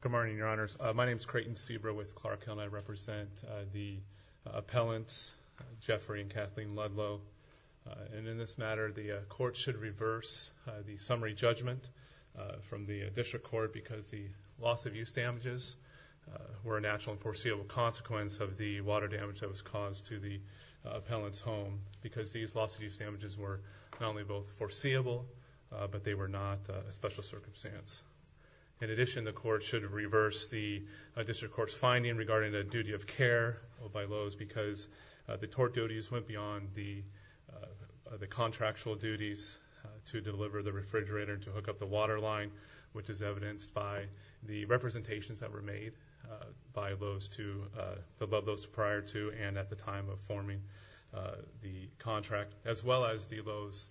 Good morning, Your Honors. My name is Creighton Sebra with Clark Hill, and I represent the appellants Jeffrey and Kathleen Ludlow. And in this matter, the court should reverse the summary judgment from the district court because the loss of use damages were a natural and foreseeable consequence of the water damage that was caused to the appellant's home because these loss of use damages were not only both foreseeable, but they were not a special circumstance. In addition, the court should reverse the district court's finding regarding the duty of care by Lowe's because the tort duties went beyond the contractual duties to deliver the refrigerator to hook up the water line, which is evidenced by the representations that were made by Lowe's to above those prior to and at the time of forming the contract, as well as the Lowe's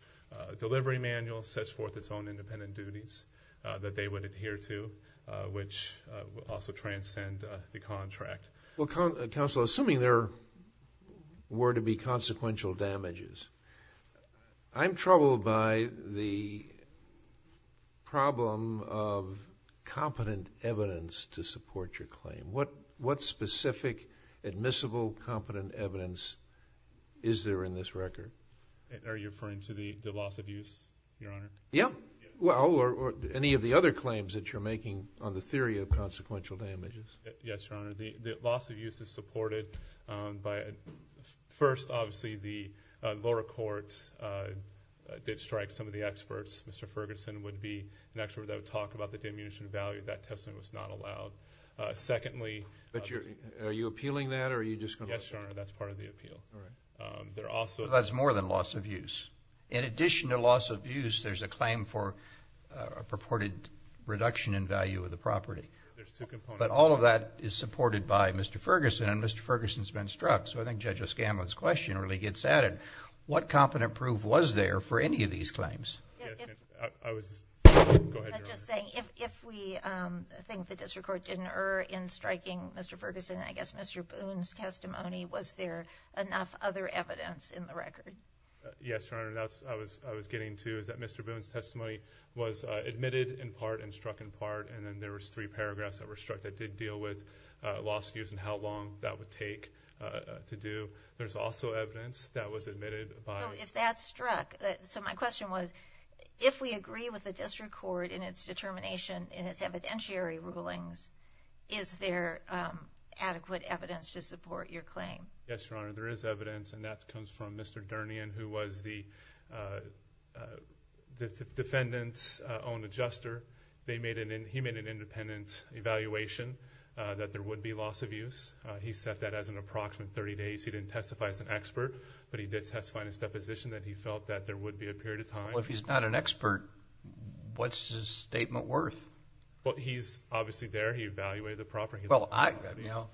delivery manual sets forth its own independent duties that they would adhere to, which also transcend the contract. Well, counsel, assuming there were to be consequential damages, I'm troubled by the problem of competent evidence to support your claim. What specific admissible competent evidence is there in this record? Are you referring to the loss of use, Your Honor? Yeah. Well, or any of the other claims that you're making on the theory of consequential damages. Yes, Your Honor. The loss of use is supported by, first, obviously, the lower court that strikes some of the experts. Mr. Ferguson would be an expert that would talk about the diminution of value. That testimony was not allowed. Secondly... Yes, Your Honor. That's part of the appeal. All right. They're also... That's more than loss of use. In addition to loss of use, there's a claim for a purported reduction in value of the property. There's two components... But all of that is supported by Mr. Ferguson, and Mr. Ferguson's been struck, so I think Judge O'Scanlan's question really gets at it. What competent proof was there for any of these claims? I was... Go ahead, Your Honor. I'm just saying, if we think the district court did an error in striking Mr. Ferguson, I guess Mr. Boone's testimony, was there enough other evidence in the record? Yes, Your Honor. That's what I was getting to, is that Mr. Boone's testimony was admitted in part and struck in part, and then there was three paragraphs that were struck that did deal with loss of use and how long that would take to do. There's also evidence that was admitted by... Oh, if that struck... So my question was, if we agree with the district court in its determination, in its evidentiary rulings, is there adequate evidence to support your claim? Yes, Your Honor. There is evidence, and that comes from Mr. Durnian, who was the defendant's own adjuster. He made an independent evaluation that there would be loss of use. He set that as an approximate 30 days. He didn't testify as an expert, but he did testify in his deposition that he felt that there would be a period of time. If he's not an expert, what's his statement worth? Well, he's obviously there. He evaluated the property. Well,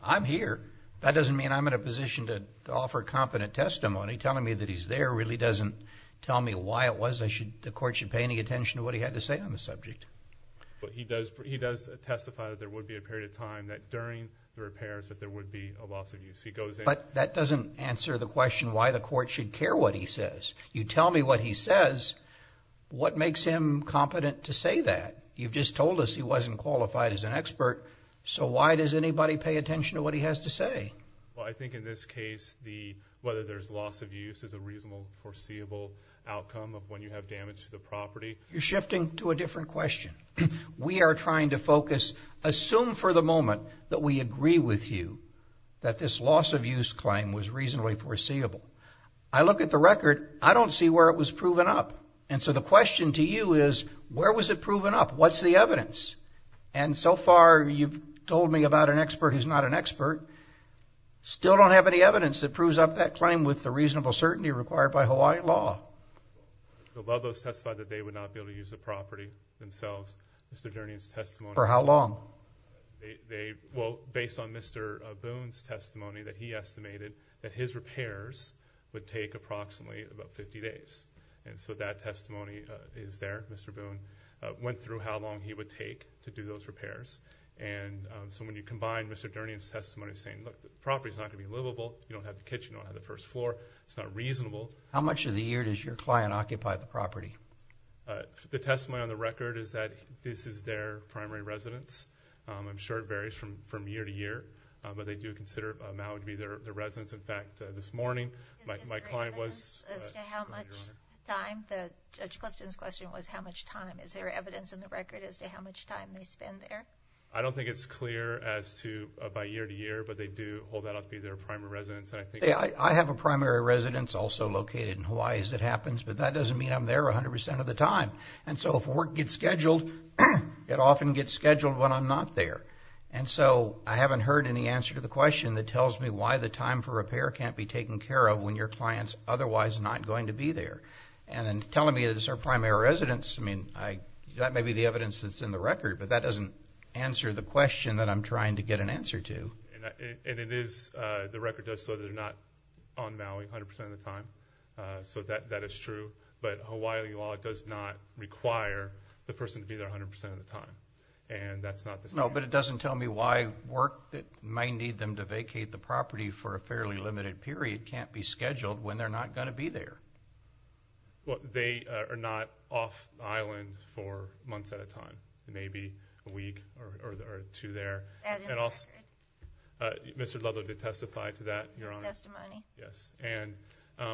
I'm here. That doesn't mean I'm in a position to offer competent testimony. Telling me that he's there really doesn't tell me why it was the court should pay any attention to what he had to say on the subject. But he does testify that there would be a period of time that during the repairs that there would be a loss of use. He goes in... But that doesn't answer the question why the court should care what he says. You tell me what he says, what makes him competent to say that? You've just told us he wasn't qualified as an expert, so why does anybody pay attention to what he has to say? Well, I think in this case, whether there's loss of use is a reasonable, foreseeable outcome of when you have damage to the property. You're shifting to a different question. We are trying to focus... assume for the moment that we agree with you that this loss of use claim was reasonably foreseeable. I look at the record. I don't see where it was proven up. And so the question to you is, where was it proven up? What's the evidence? And so far, you've told me about an expert who's not an expert. Still don't have any evidence that proves up that claim with the reasonable certainty required by Hawaiian law. The Lubbos testified that they would not be able to use the property themselves. Mr. Durnian's testimony... For how long? They... well, based on Mr. Boone's testimony, that he estimated that his repairs would take approximately about 50 days. And so that testimony is there. Mr. Boone went through how long he would take to do those repairs. And so when you combine Mr. Durnian's testimony saying, look, the property's not going to be livable. You don't have the kitchen. You don't have the first floor. It's not reasonable. The testimony on the record is that this is their primary residence. I'm sure it varies from year to year. But they do consider Maui to be their residence. In fact, this morning, my client was... Is there evidence as to how much time? Judge Clifton's question was how much time. Is there evidence in the record as to how much time they spend there? I don't think it's clear as to by year to year. But they do hold that up to be their primary residence. And I think... I have a primary residence also located in Hawaii, as it happens. But that doesn't mean I'm there 100 percent of the time. And so if work gets scheduled, it often gets scheduled when I'm not there. And so I haven't heard any answer to the question that tells me why the time for repair can't be taken care of when your client's otherwise not going to be there. And then telling me that it's their primary residence, I mean, that may be the evidence that's in the record. But that doesn't answer the question that I'm trying to get an answer to. And it is... the record does show that they're not on Maui 100 percent of the time. So that is true. But Hawaii law does not require the person to be there 100 percent of the time. And that's not the same... No, but it doesn't tell me why work that might need them to vacate the property for a fairly limited period can't be scheduled when they're not going to be there. Well, they are not off island for months at a time. Maybe a week or two there. Mr. Ludlow did testify to that, Your Honor. His testimony. Yes. And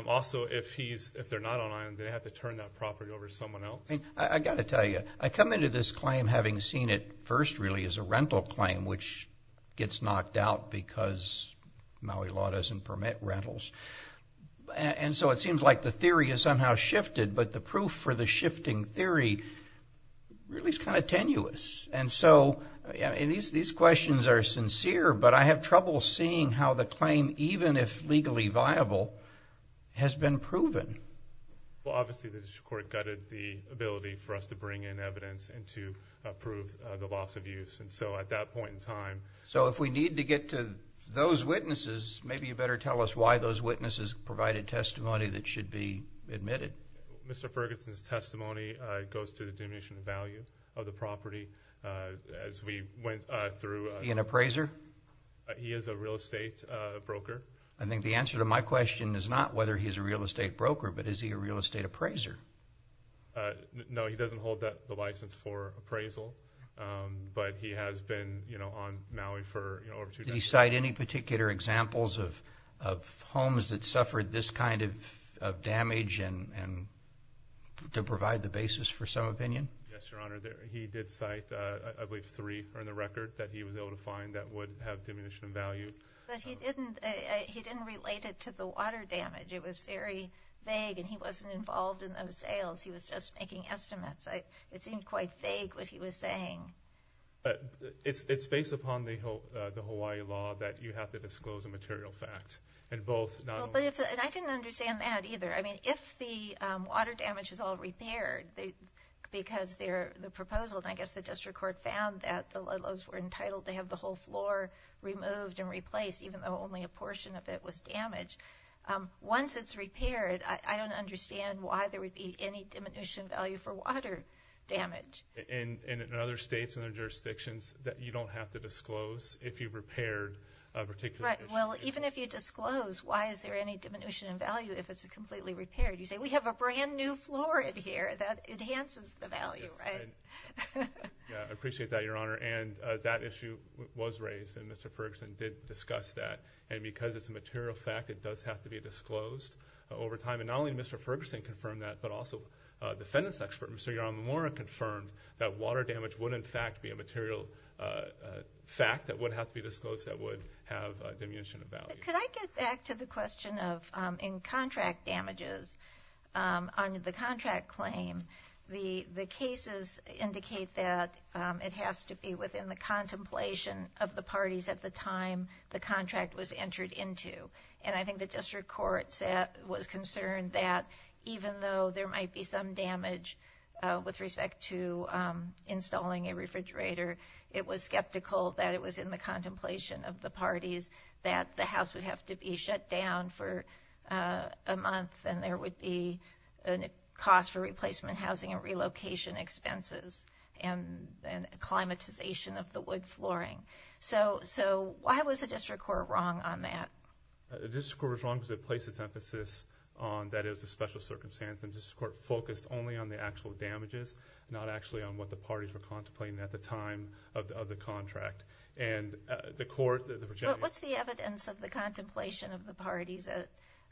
also, if he's... if they're not on island, they have to turn that property over to someone else. I've got to tell you, I come into this claim having seen it first, really, as a rental claim, which gets knocked out because Maui law doesn't permit rentals. And so it seems like the theory has somehow shifted. But the proof for the shifting theory really is kind of tenuous. And so these questions are sincere. But I have trouble seeing how the claim, even if legally viable, has been proven. Well, obviously, the district court gutted the ability for us to bring in evidence and to approve the loss of use. And so at that point in time... So if we need to get to those witnesses, maybe you better tell us why those witnesses provided testimony that should be admitted. Mr. Ferguson's testimony goes to the diminution of value of the property. As we went through... He an appraiser? He is a real estate broker. I think the answer to my question is not whether he's a real estate broker, but is he a real estate appraiser? No, he doesn't hold the license for appraisal. But he has been on Maui for over two decades. Did he cite any particular examples of homes that suffered this kind of damage to provide the basis for some opinion? Yes, Your Honor. He did cite, I believe, three on the record that he was able to find that have diminution of value. But he didn't relate it to the water damage. It was very vague, and he wasn't involved in those sales. He was just making estimates. It seemed quite vague what he was saying. It's based upon the Hawaii law that you have to disclose a material fact. And both... I didn't understand that either. I mean, if the water damage is all repaired because the proposal, and I guess the district court found that the removed and replaced, even though only a portion of it was damaged, once it's repaired, I don't understand why there would be any diminution of value for water damage. And in other states and other jurisdictions, you don't have to disclose if you repaired a particular issue. Right. Well, even if you disclose, why is there any diminution of value if it's completely repaired? You say, we have a brand new floor in here. That enhances the value, right? Yeah. I appreciate that, Your Honor. And that issue was raised, and Mr. Ferguson did discuss that. And because it's a material fact, it does have to be disclosed over time. And not only did Mr. Ferguson confirm that, but also a defendant's expert, Mr. Yaramimura, confirmed that water damage would, in fact, be a material fact that would have to be disclosed that would have diminution of value. Could I get back to the question of in contract damages, on the contract claim, the cases indicate that it has to be within the contemplation of the parties at the time the contract was entered into. And I think the district court was concerned that even though there might be some damage with respect to installing a refrigerator, it was skeptical that it was in the contemplation of the parties that the house would have to be shut down for a month. And there would be a cost for replacement housing and relocation expenses and acclimatization of the wood flooring. So, why was the district court wrong on that? The district court was wrong because it placed its emphasis on that it was a special circumstance. And the district court focused only on the actual damages, not actually on what the parties were contemplating at the time of the contract. And the court... But what's the evidence of the contemplation of the parties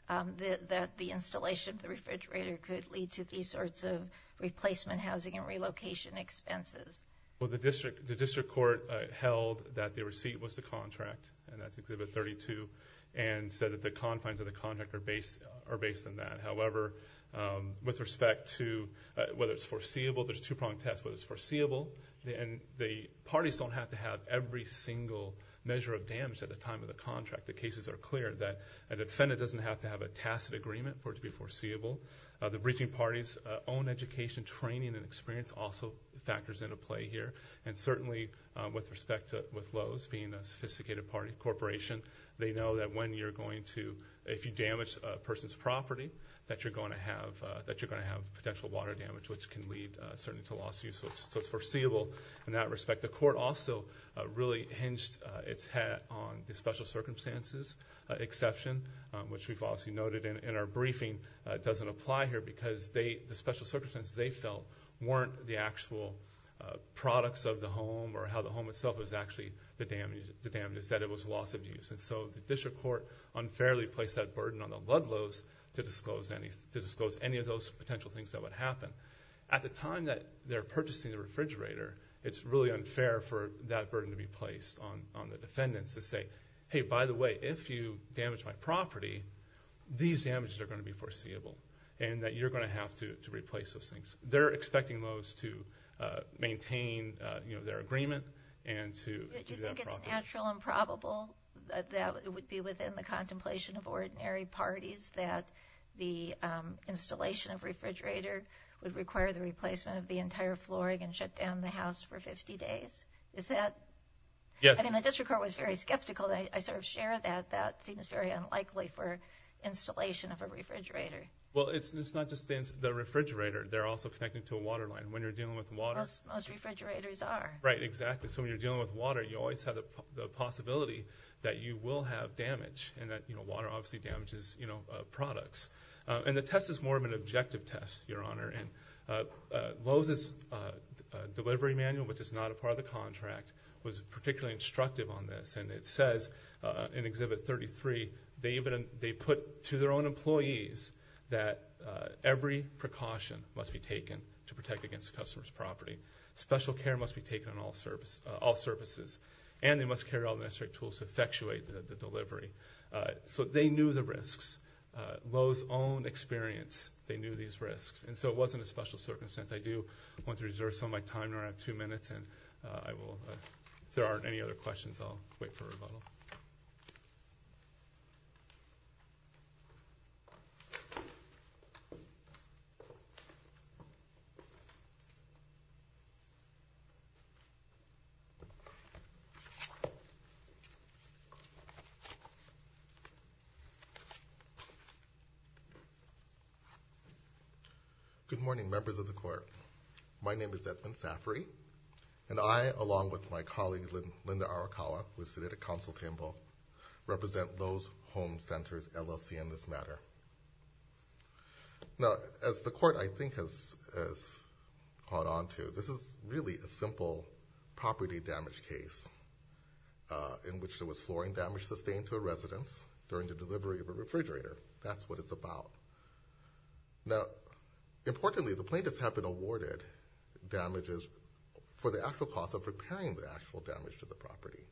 that the installation of the refrigerator could lead to these sorts of replacement housing and relocation expenses? Well, the district court held that the receipt was the contract, and that's Exhibit 32, and said that the confines of the contract are based on that. However, with respect to whether it's foreseeable, there's two-pronged test, whether it's foreseeable, and the parties don't have to have every single measure of damage at the time of the contract. The cases are clear that an offender doesn't have to have a tacit agreement for it to be foreseeable. The breaching parties' own education, training, and experience also factors into play here. And certainly, with respect to Lowe's being a sophisticated corporation, they know that when you're going to, if you damage a person's property, that you're going to have potential water damage, which can lead certainly to loss of use. So it's foreseeable in that respect. The court also really hinged its hat on the special circumstances exception, which we've obviously noted in our briefing doesn't apply here, because the special circumstances they felt weren't the actual products of the home, or how the home itself was actually the damage, is that it was loss of use. And so the district court unfairly placed that burden on the Ludlow's to disclose any of those potential things that would happen. At the time that they're purchasing the refrigerator, it's really unfair for that burden to be placed on the defendants to say, hey, by the way, if you damage my property, these damages are going to be foreseeable, and that you're going to have to replace those things. They're expecting Lowe's to maintain their agreement and to... The district court was very skeptical. I sort of share that. That seems very unlikely for installation of a refrigerator. Well, it's not just the refrigerator. They're also connected to a water line. When you're dealing with water... Most refrigerators are. Right, exactly. So when you're dealing with water, you always have the possibility that you will have damage, and that water obviously damages products. And the test is more of an objective test, Your Honor. And Lowe's' delivery manual, which is not a part of the contract, was particularly instructive on this. And it says in Exhibit 33, they put to their own employees that every precaution must be taken to protect against the customer's property. Special care must be taken on all services. And they must carry all the necessary tools to effectuate the delivery. So they knew the risks. Lowe's' own experience, they knew these risks. And so it wasn't a special circumstance. I do want to reserve some of my time. I only have two minutes. If there aren't any other questions, I'll wait for a rebuttal. Good morning, members of the Court. My name is Edmond Safaree. And I, along with my colleague, Linda Arakawa, who is seated at counsel table, represent Lowe's Home Centers, LLC, in this matter. Now, as the Court, I think, has caught on to, this is really a simple property damage case in which there was flooring damage sustained to a residence. During the delivery of a refrigerator. That's what it's about. Now, importantly, the plaintiffs have been awarded damages for the actual cost of repairing the actual damage to the property.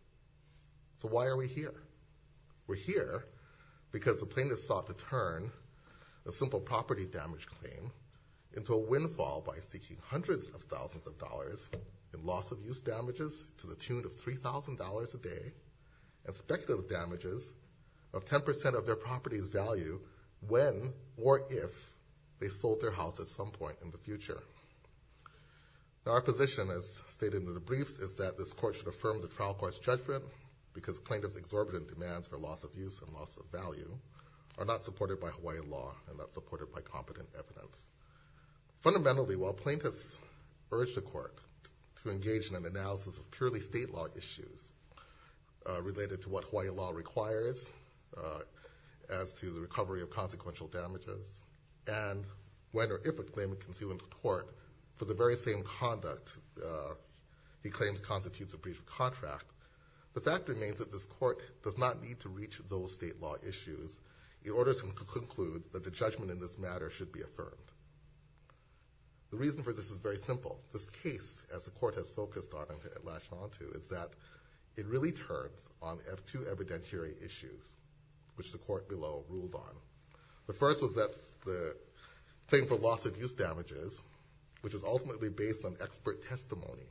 So why are we here? We're here because the plaintiffs sought to turn a simple property damage claim into a windfall by seeking hundreds of thousands of dollars in loss of use damages to the tune of $3,000 a day and speculative damages of 10% of their property's value when or if they sold their house at some point in the future. Now, our position, as stated in the briefs, is that this Court should affirm the trial court's judgment because plaintiffs' exorbitant demands for loss of use and loss of value are not supported by Hawaii law and not supported by competent evidence. Fundamentally, while plaintiffs urge the Court to engage in an analysis of purely state law issues, related to what Hawaii law requires, as to the recovery of consequential damages, and when or if a claimant can sue into court for the very same conduct he claims constitutes a breach of contract, the fact remains that this Court does not need to reach those state law issues in order to conclude that the judgment in this matter should be affirmed. The reason for this is very simple. This case, as the Court has focused on and latched onto, is that it really turns on two evidentiary issues, which the Court below ruled on. The first was that the claim for loss of use damages, which is ultimately based on expert testimony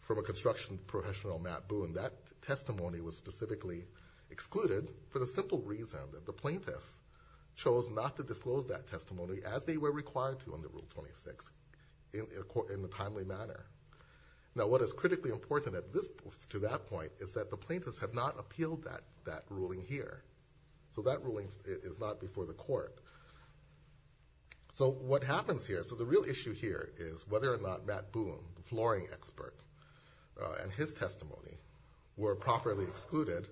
from a construction professional, Matt Boone, that testimony was specifically excluded for the simple reason that the plaintiff chose not to disclose that testimony as they were required to under Rule 26 in a timely manner. Now, what is critically important to that point is that the plaintiffs have not appealed that ruling here, so that ruling is not before the Court. So what happens here, so the real issue here is whether or not Matt Boone, the flooring expert, and his testimony were properly excluded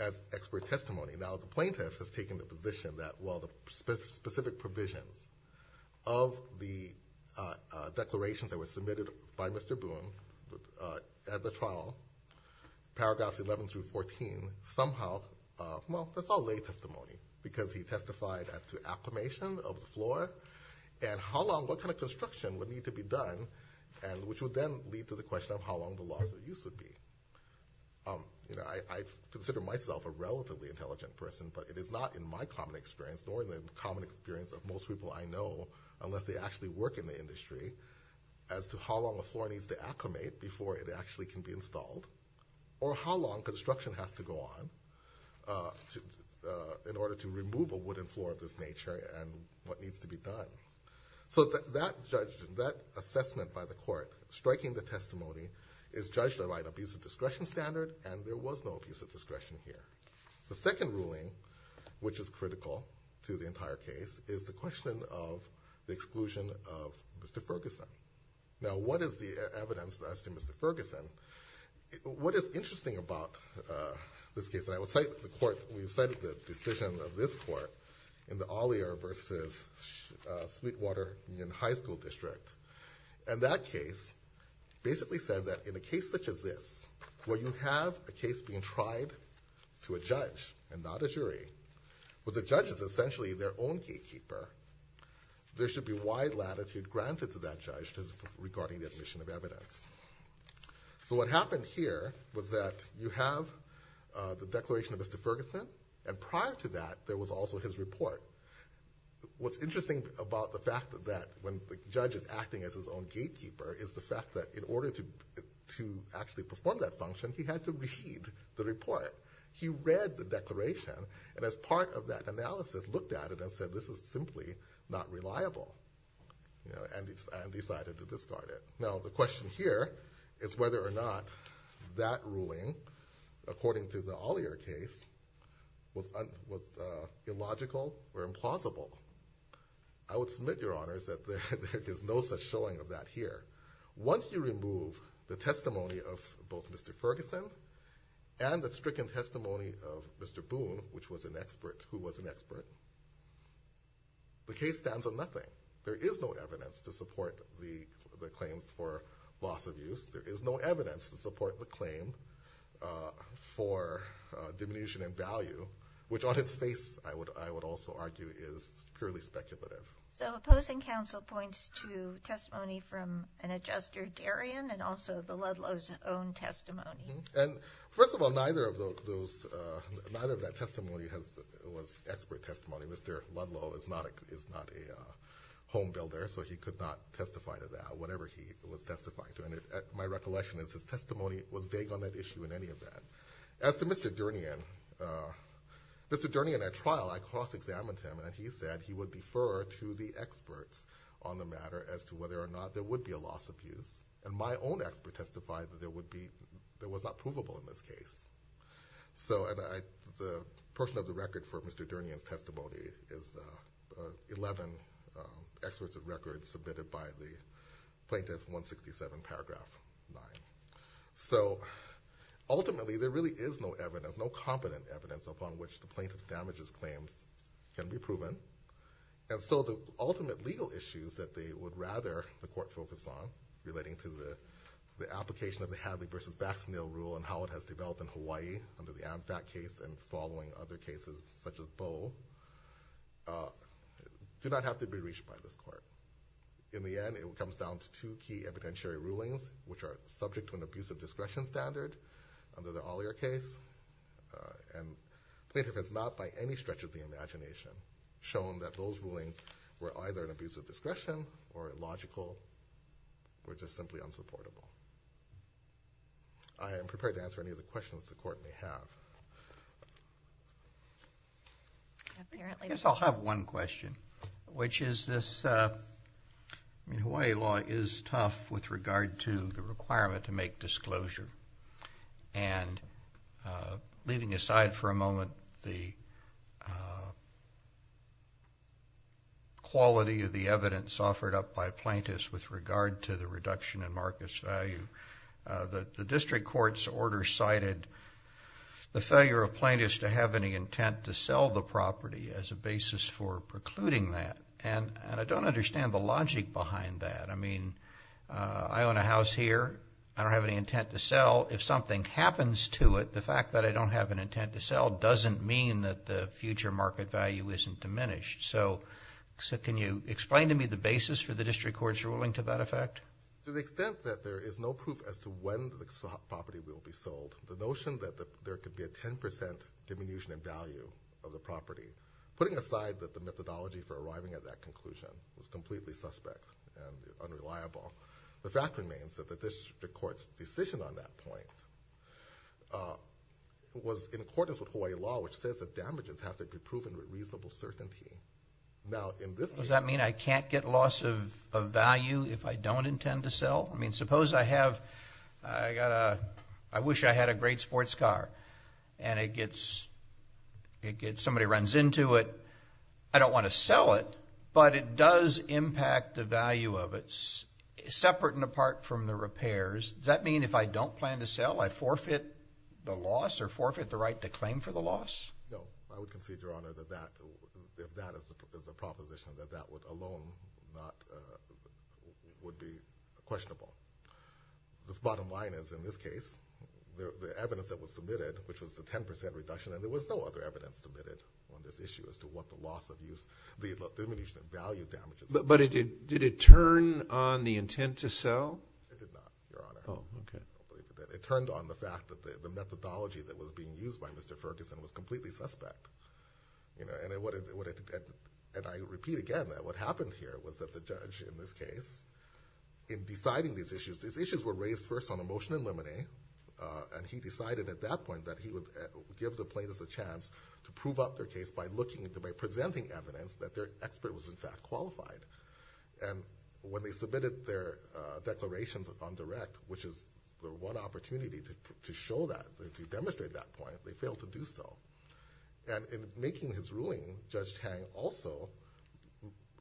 as expert testimony. Now, the plaintiff has taken the position that, well, the specific provisions of the declarations that were submitted by Mr. Boone at the trial, paragraphs 11 through 14, somehow, well, that's all lay testimony because he testified as to acclimation of the floor and how long, what kind of construction would need to be done, and which would then lead to the question of how long the loss of use would be. You know, I consider myself a relatively intelligent person, but it is not in my common experience, nor in the common experience of most people I know, unless they actually work in the industry, as to how long the floor needs to acclimate before it actually can be installed, or how long construction has to go on in order to remove a wooden floor of this nature and what needs to be done. So that assessment by the Court, striking the testimony, is judged to write abusive discretion standard, and there was no abusive discretion here. The second ruling, which is critical to the entire case, is the question of the exclusion of Mr. Ferguson. Now, what is the evidence as to Mr. Ferguson? What is interesting about this case, and I will cite the Court, we cited the decision of this Court in the Ollier versus Sweetwater Union High School District, and that case basically said that in a case such as this, where you have a case being tried to a judge and not a jury, where the judge is essentially their own gatekeeper, there should be wide latitude granted to that judge regarding the admission of evidence. So what happened here was that you have the declaration of Mr. Ferguson, and prior to that, there was also his report. What's interesting about the fact that when the judge is acting as his own gatekeeper is the fact that in order to actually perform that function, he had to read the report. He read the declaration, and as part of that analysis, looked at it and said, this is simply not reliable, and decided to discard it. Now, the question here is whether or not that ruling, according to the Ollier case, was illogical or implausible. I would submit, Your Honors, that there is no such showing of that here. Once you remove the testimony of both Mr. Ferguson and the stricken testimony of Mr. Boone, which was an expert, who was an expert, the case stands on nothing. There is no evidence to support the claims for loss of use. There is no evidence to support the claim for diminution in value, which on its face, I would also argue, is purely speculative. So opposing counsel points to testimony from an adjuster, Darian, and also the Ludlow's own testimony. And first of all, neither of those, neither of that testimony was expert testimony. Mr. Ludlow is not a home builder, so he could not testify to that, whatever he was testifying to. And my recollection is, his testimony was vague on that issue in any event. As to Mr. Durnian, Mr. Durnian, at trial, I cross-examined him, and he said he would defer to the experts on the matter as to whether or not there would be a loss of use. And my own expert testified that there was not provable in this case. So the portion of the record for Mr. Durnian's testimony is 11 excerpts of records submitted by the Plaintiff 167, paragraph 9. So ultimately, there really is no evidence, no competent evidence, upon which the plaintiff's damages claims can be proven. And so the ultimate legal issues that they would rather the court focus on, relating to the application of the Hadley v. Baxneel rule and how it has developed in Hawaii under the AmFAC case and following other cases such as Boe, do not have to be reached by this court. In the end, it comes down to two key evidentiary rulings, which are subject to an abusive discretion standard under the Ollier case, and plaintiff has not, by any stretch of the imagination, shown that those rulings were either an abusive discretion or illogical or just simply unsupportable. I am prepared to answer any of the questions the court may have. I guess I'll have one question, which is this, I mean, Hawaii law is tough with regard to the requirement to make disclosure. And leaving aside for a moment the quality of the evidence offered up by plaintiffs with regard to the reduction in market's value, the district court's order cited the failure of plaintiffs to have any intent to sell the property as a basis for precluding that. And I don't understand the logic behind that. I mean, I own a house here. I don't have any intent to sell. If something happens to it, the fact that I don't have an intent to sell doesn't mean that the future market value isn't diminished. So can you explain to me the basis for the district court's ruling to that effect? To the extent that there is no proof as to when the property will be sold, the notion that there could be a 10% diminution in value of the property, putting aside that the methodology for arriving at that conclusion was completely suspect and unreliable. The fact remains that the district court's decision on that point was in accordance with Hawaii law, which says that damages have to be proven with reasonable certainty. Now, in this case- Does that mean I can't get loss of value if I don't intend to sell? I mean, suppose I wish I had a great sports car and somebody runs into it. I don't want to sell it, but it does impact the value of it, separate and apart from the repairs. Does that mean if I don't plan to sell, I forfeit the loss or forfeit the right to claim for the loss? No, I would concede, Your Honor, if that is the proposition, that that alone would be questionable. The bottom line is, in this case, the evidence that was submitted, which was the 10% reduction, and there was no other evidence submitted on this issue as to what the loss of use, the diminution of value damages- But did it turn on the intent to sell? It did not, Your Honor. Oh, okay. It turned on the fact that the methodology that was being used by Mr. Ferguson was completely suspect. And I repeat again that what happened here was that the judge in this case, in deciding these issues, these issues were raised first on a motion in limine, and he decided at that point that he would give the plaintiffs a chance to prove up their case by presenting evidence that their expert was in fact qualified. And when they submitted their declarations on direct, which is the one opportunity to show that, to demonstrate that point, they failed to do so. And in making his ruling, Judge Tang also,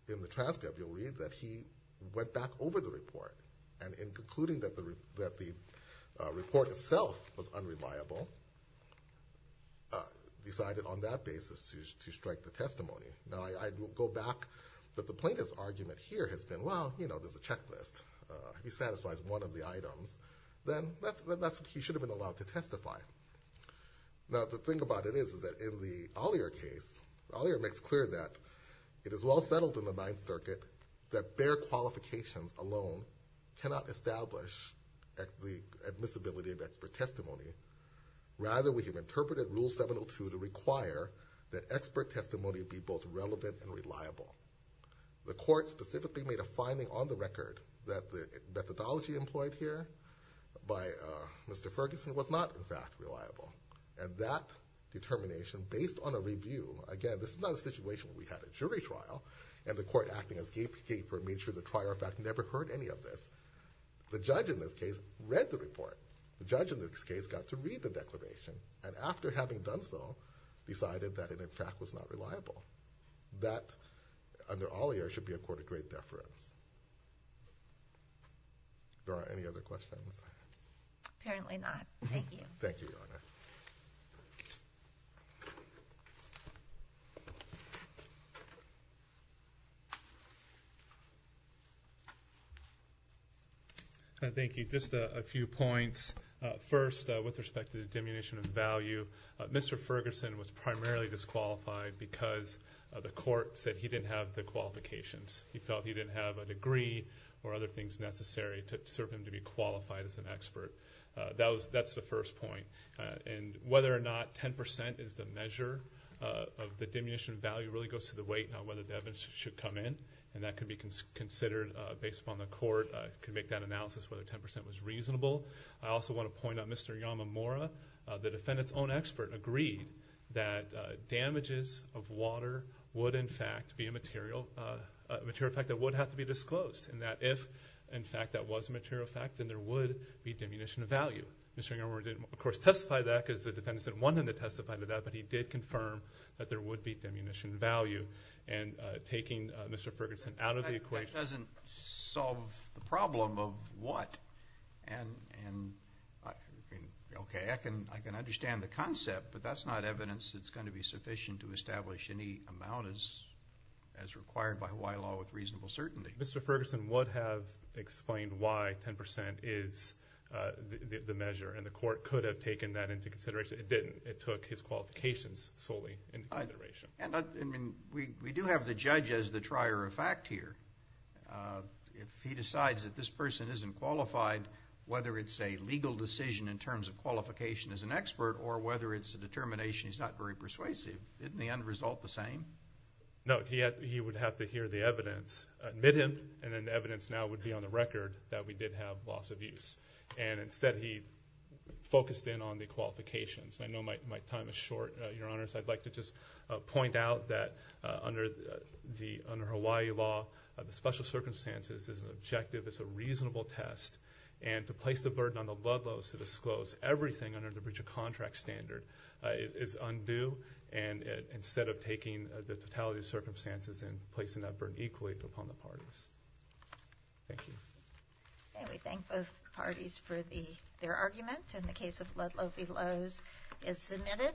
in the transcript you'll read that he went back over the report and in concluding that the report itself was unreliable, decided on that basis to strike the testimony. Now, I will go back that the plaintiff's argument here has been, well, you know, there's a checklist. He satisfies one of the items, then he should have been allowed to testify. Now, the thing about it is, is that in the Ollier case, Ollier makes clear that it is well settled in the Ninth Circuit that their qualifications alone cannot establish the admissibility of expert testimony. Rather, we have interpreted Rule 702 to require that expert testimony be both relevant and reliable. The court specifically made a finding on the record that the methodology employed here by Mr. Ferguson was not, in fact, reliable. And that determination, based on a review, again, this is not a situation where we had a jury trial and the court acting as gatekeeper made sure the trier of fact never heard any of this. The judge in this case read the report. The judge in this case got to read the declaration and after having done so, decided that it, in fact, was not reliable. That, under Ollier, should be a court of great deference. There are any other questions? Apparently not. Thank you. Thank you, Your Honor. Thank you. Just a few points. First, with respect to the diminution of value, Mr. Ferguson was primarily disqualified because the court said he didn't have the qualifications. He felt he didn't have a degree or other things necessary to serve him to be qualified as an expert. That's the first point. And whether or not 10% is the measure of the diminution of value really goes to the weight on whether the evidence should come in. And that can be considered, based upon the court, can make that analysis whether 10% was reasonable. I also want to point out, Mr. Yamamura, the defendant's own expert, agreed that damages of water would, in fact, be a material effect that would have to be disclosed. And that if, in fact, that was a material effect, then there would be diminution of value. Mr. Yamamura didn't, of course, testify to that because the defendant didn't want him to testify to that, but he did confirm that there would be diminution of value. And taking Mr. Ferguson out of the equation... That doesn't solve the problem of what... Okay, I can understand the concept, but that's not evidence that's going to be sufficient to establish any amount as required by Hawaii law with reasonable certainty. Mr. Ferguson would have explained why 10% is the measure, and the court could have taken that into consideration. It didn't. It took his qualifications solely into consideration. And we do have the judge as the trier of fact here. If he decides that this person isn't qualified, whether it's a legal decision in terms of qualification as an expert or whether it's a determination he's not very persuasive, didn't the end result the same? No, he would have to hear the evidence. Admit him, and then the evidence now would be on the record that we did have loss of use. And instead he focused in on the qualifications. And I know my time is short, Your Honors. I'd like to just point out that under Hawaii law, the special circumstances is an objective, it's a reasonable test. And to place the burden on the Ludlow's to disclose everything under the breach of contract standard is undue. And instead of taking the totality of circumstances and placing that burden equally, upon the parties. Thank you. Okay, we thank both parties for their argument. In the case of Ludlow, the clause is submitted.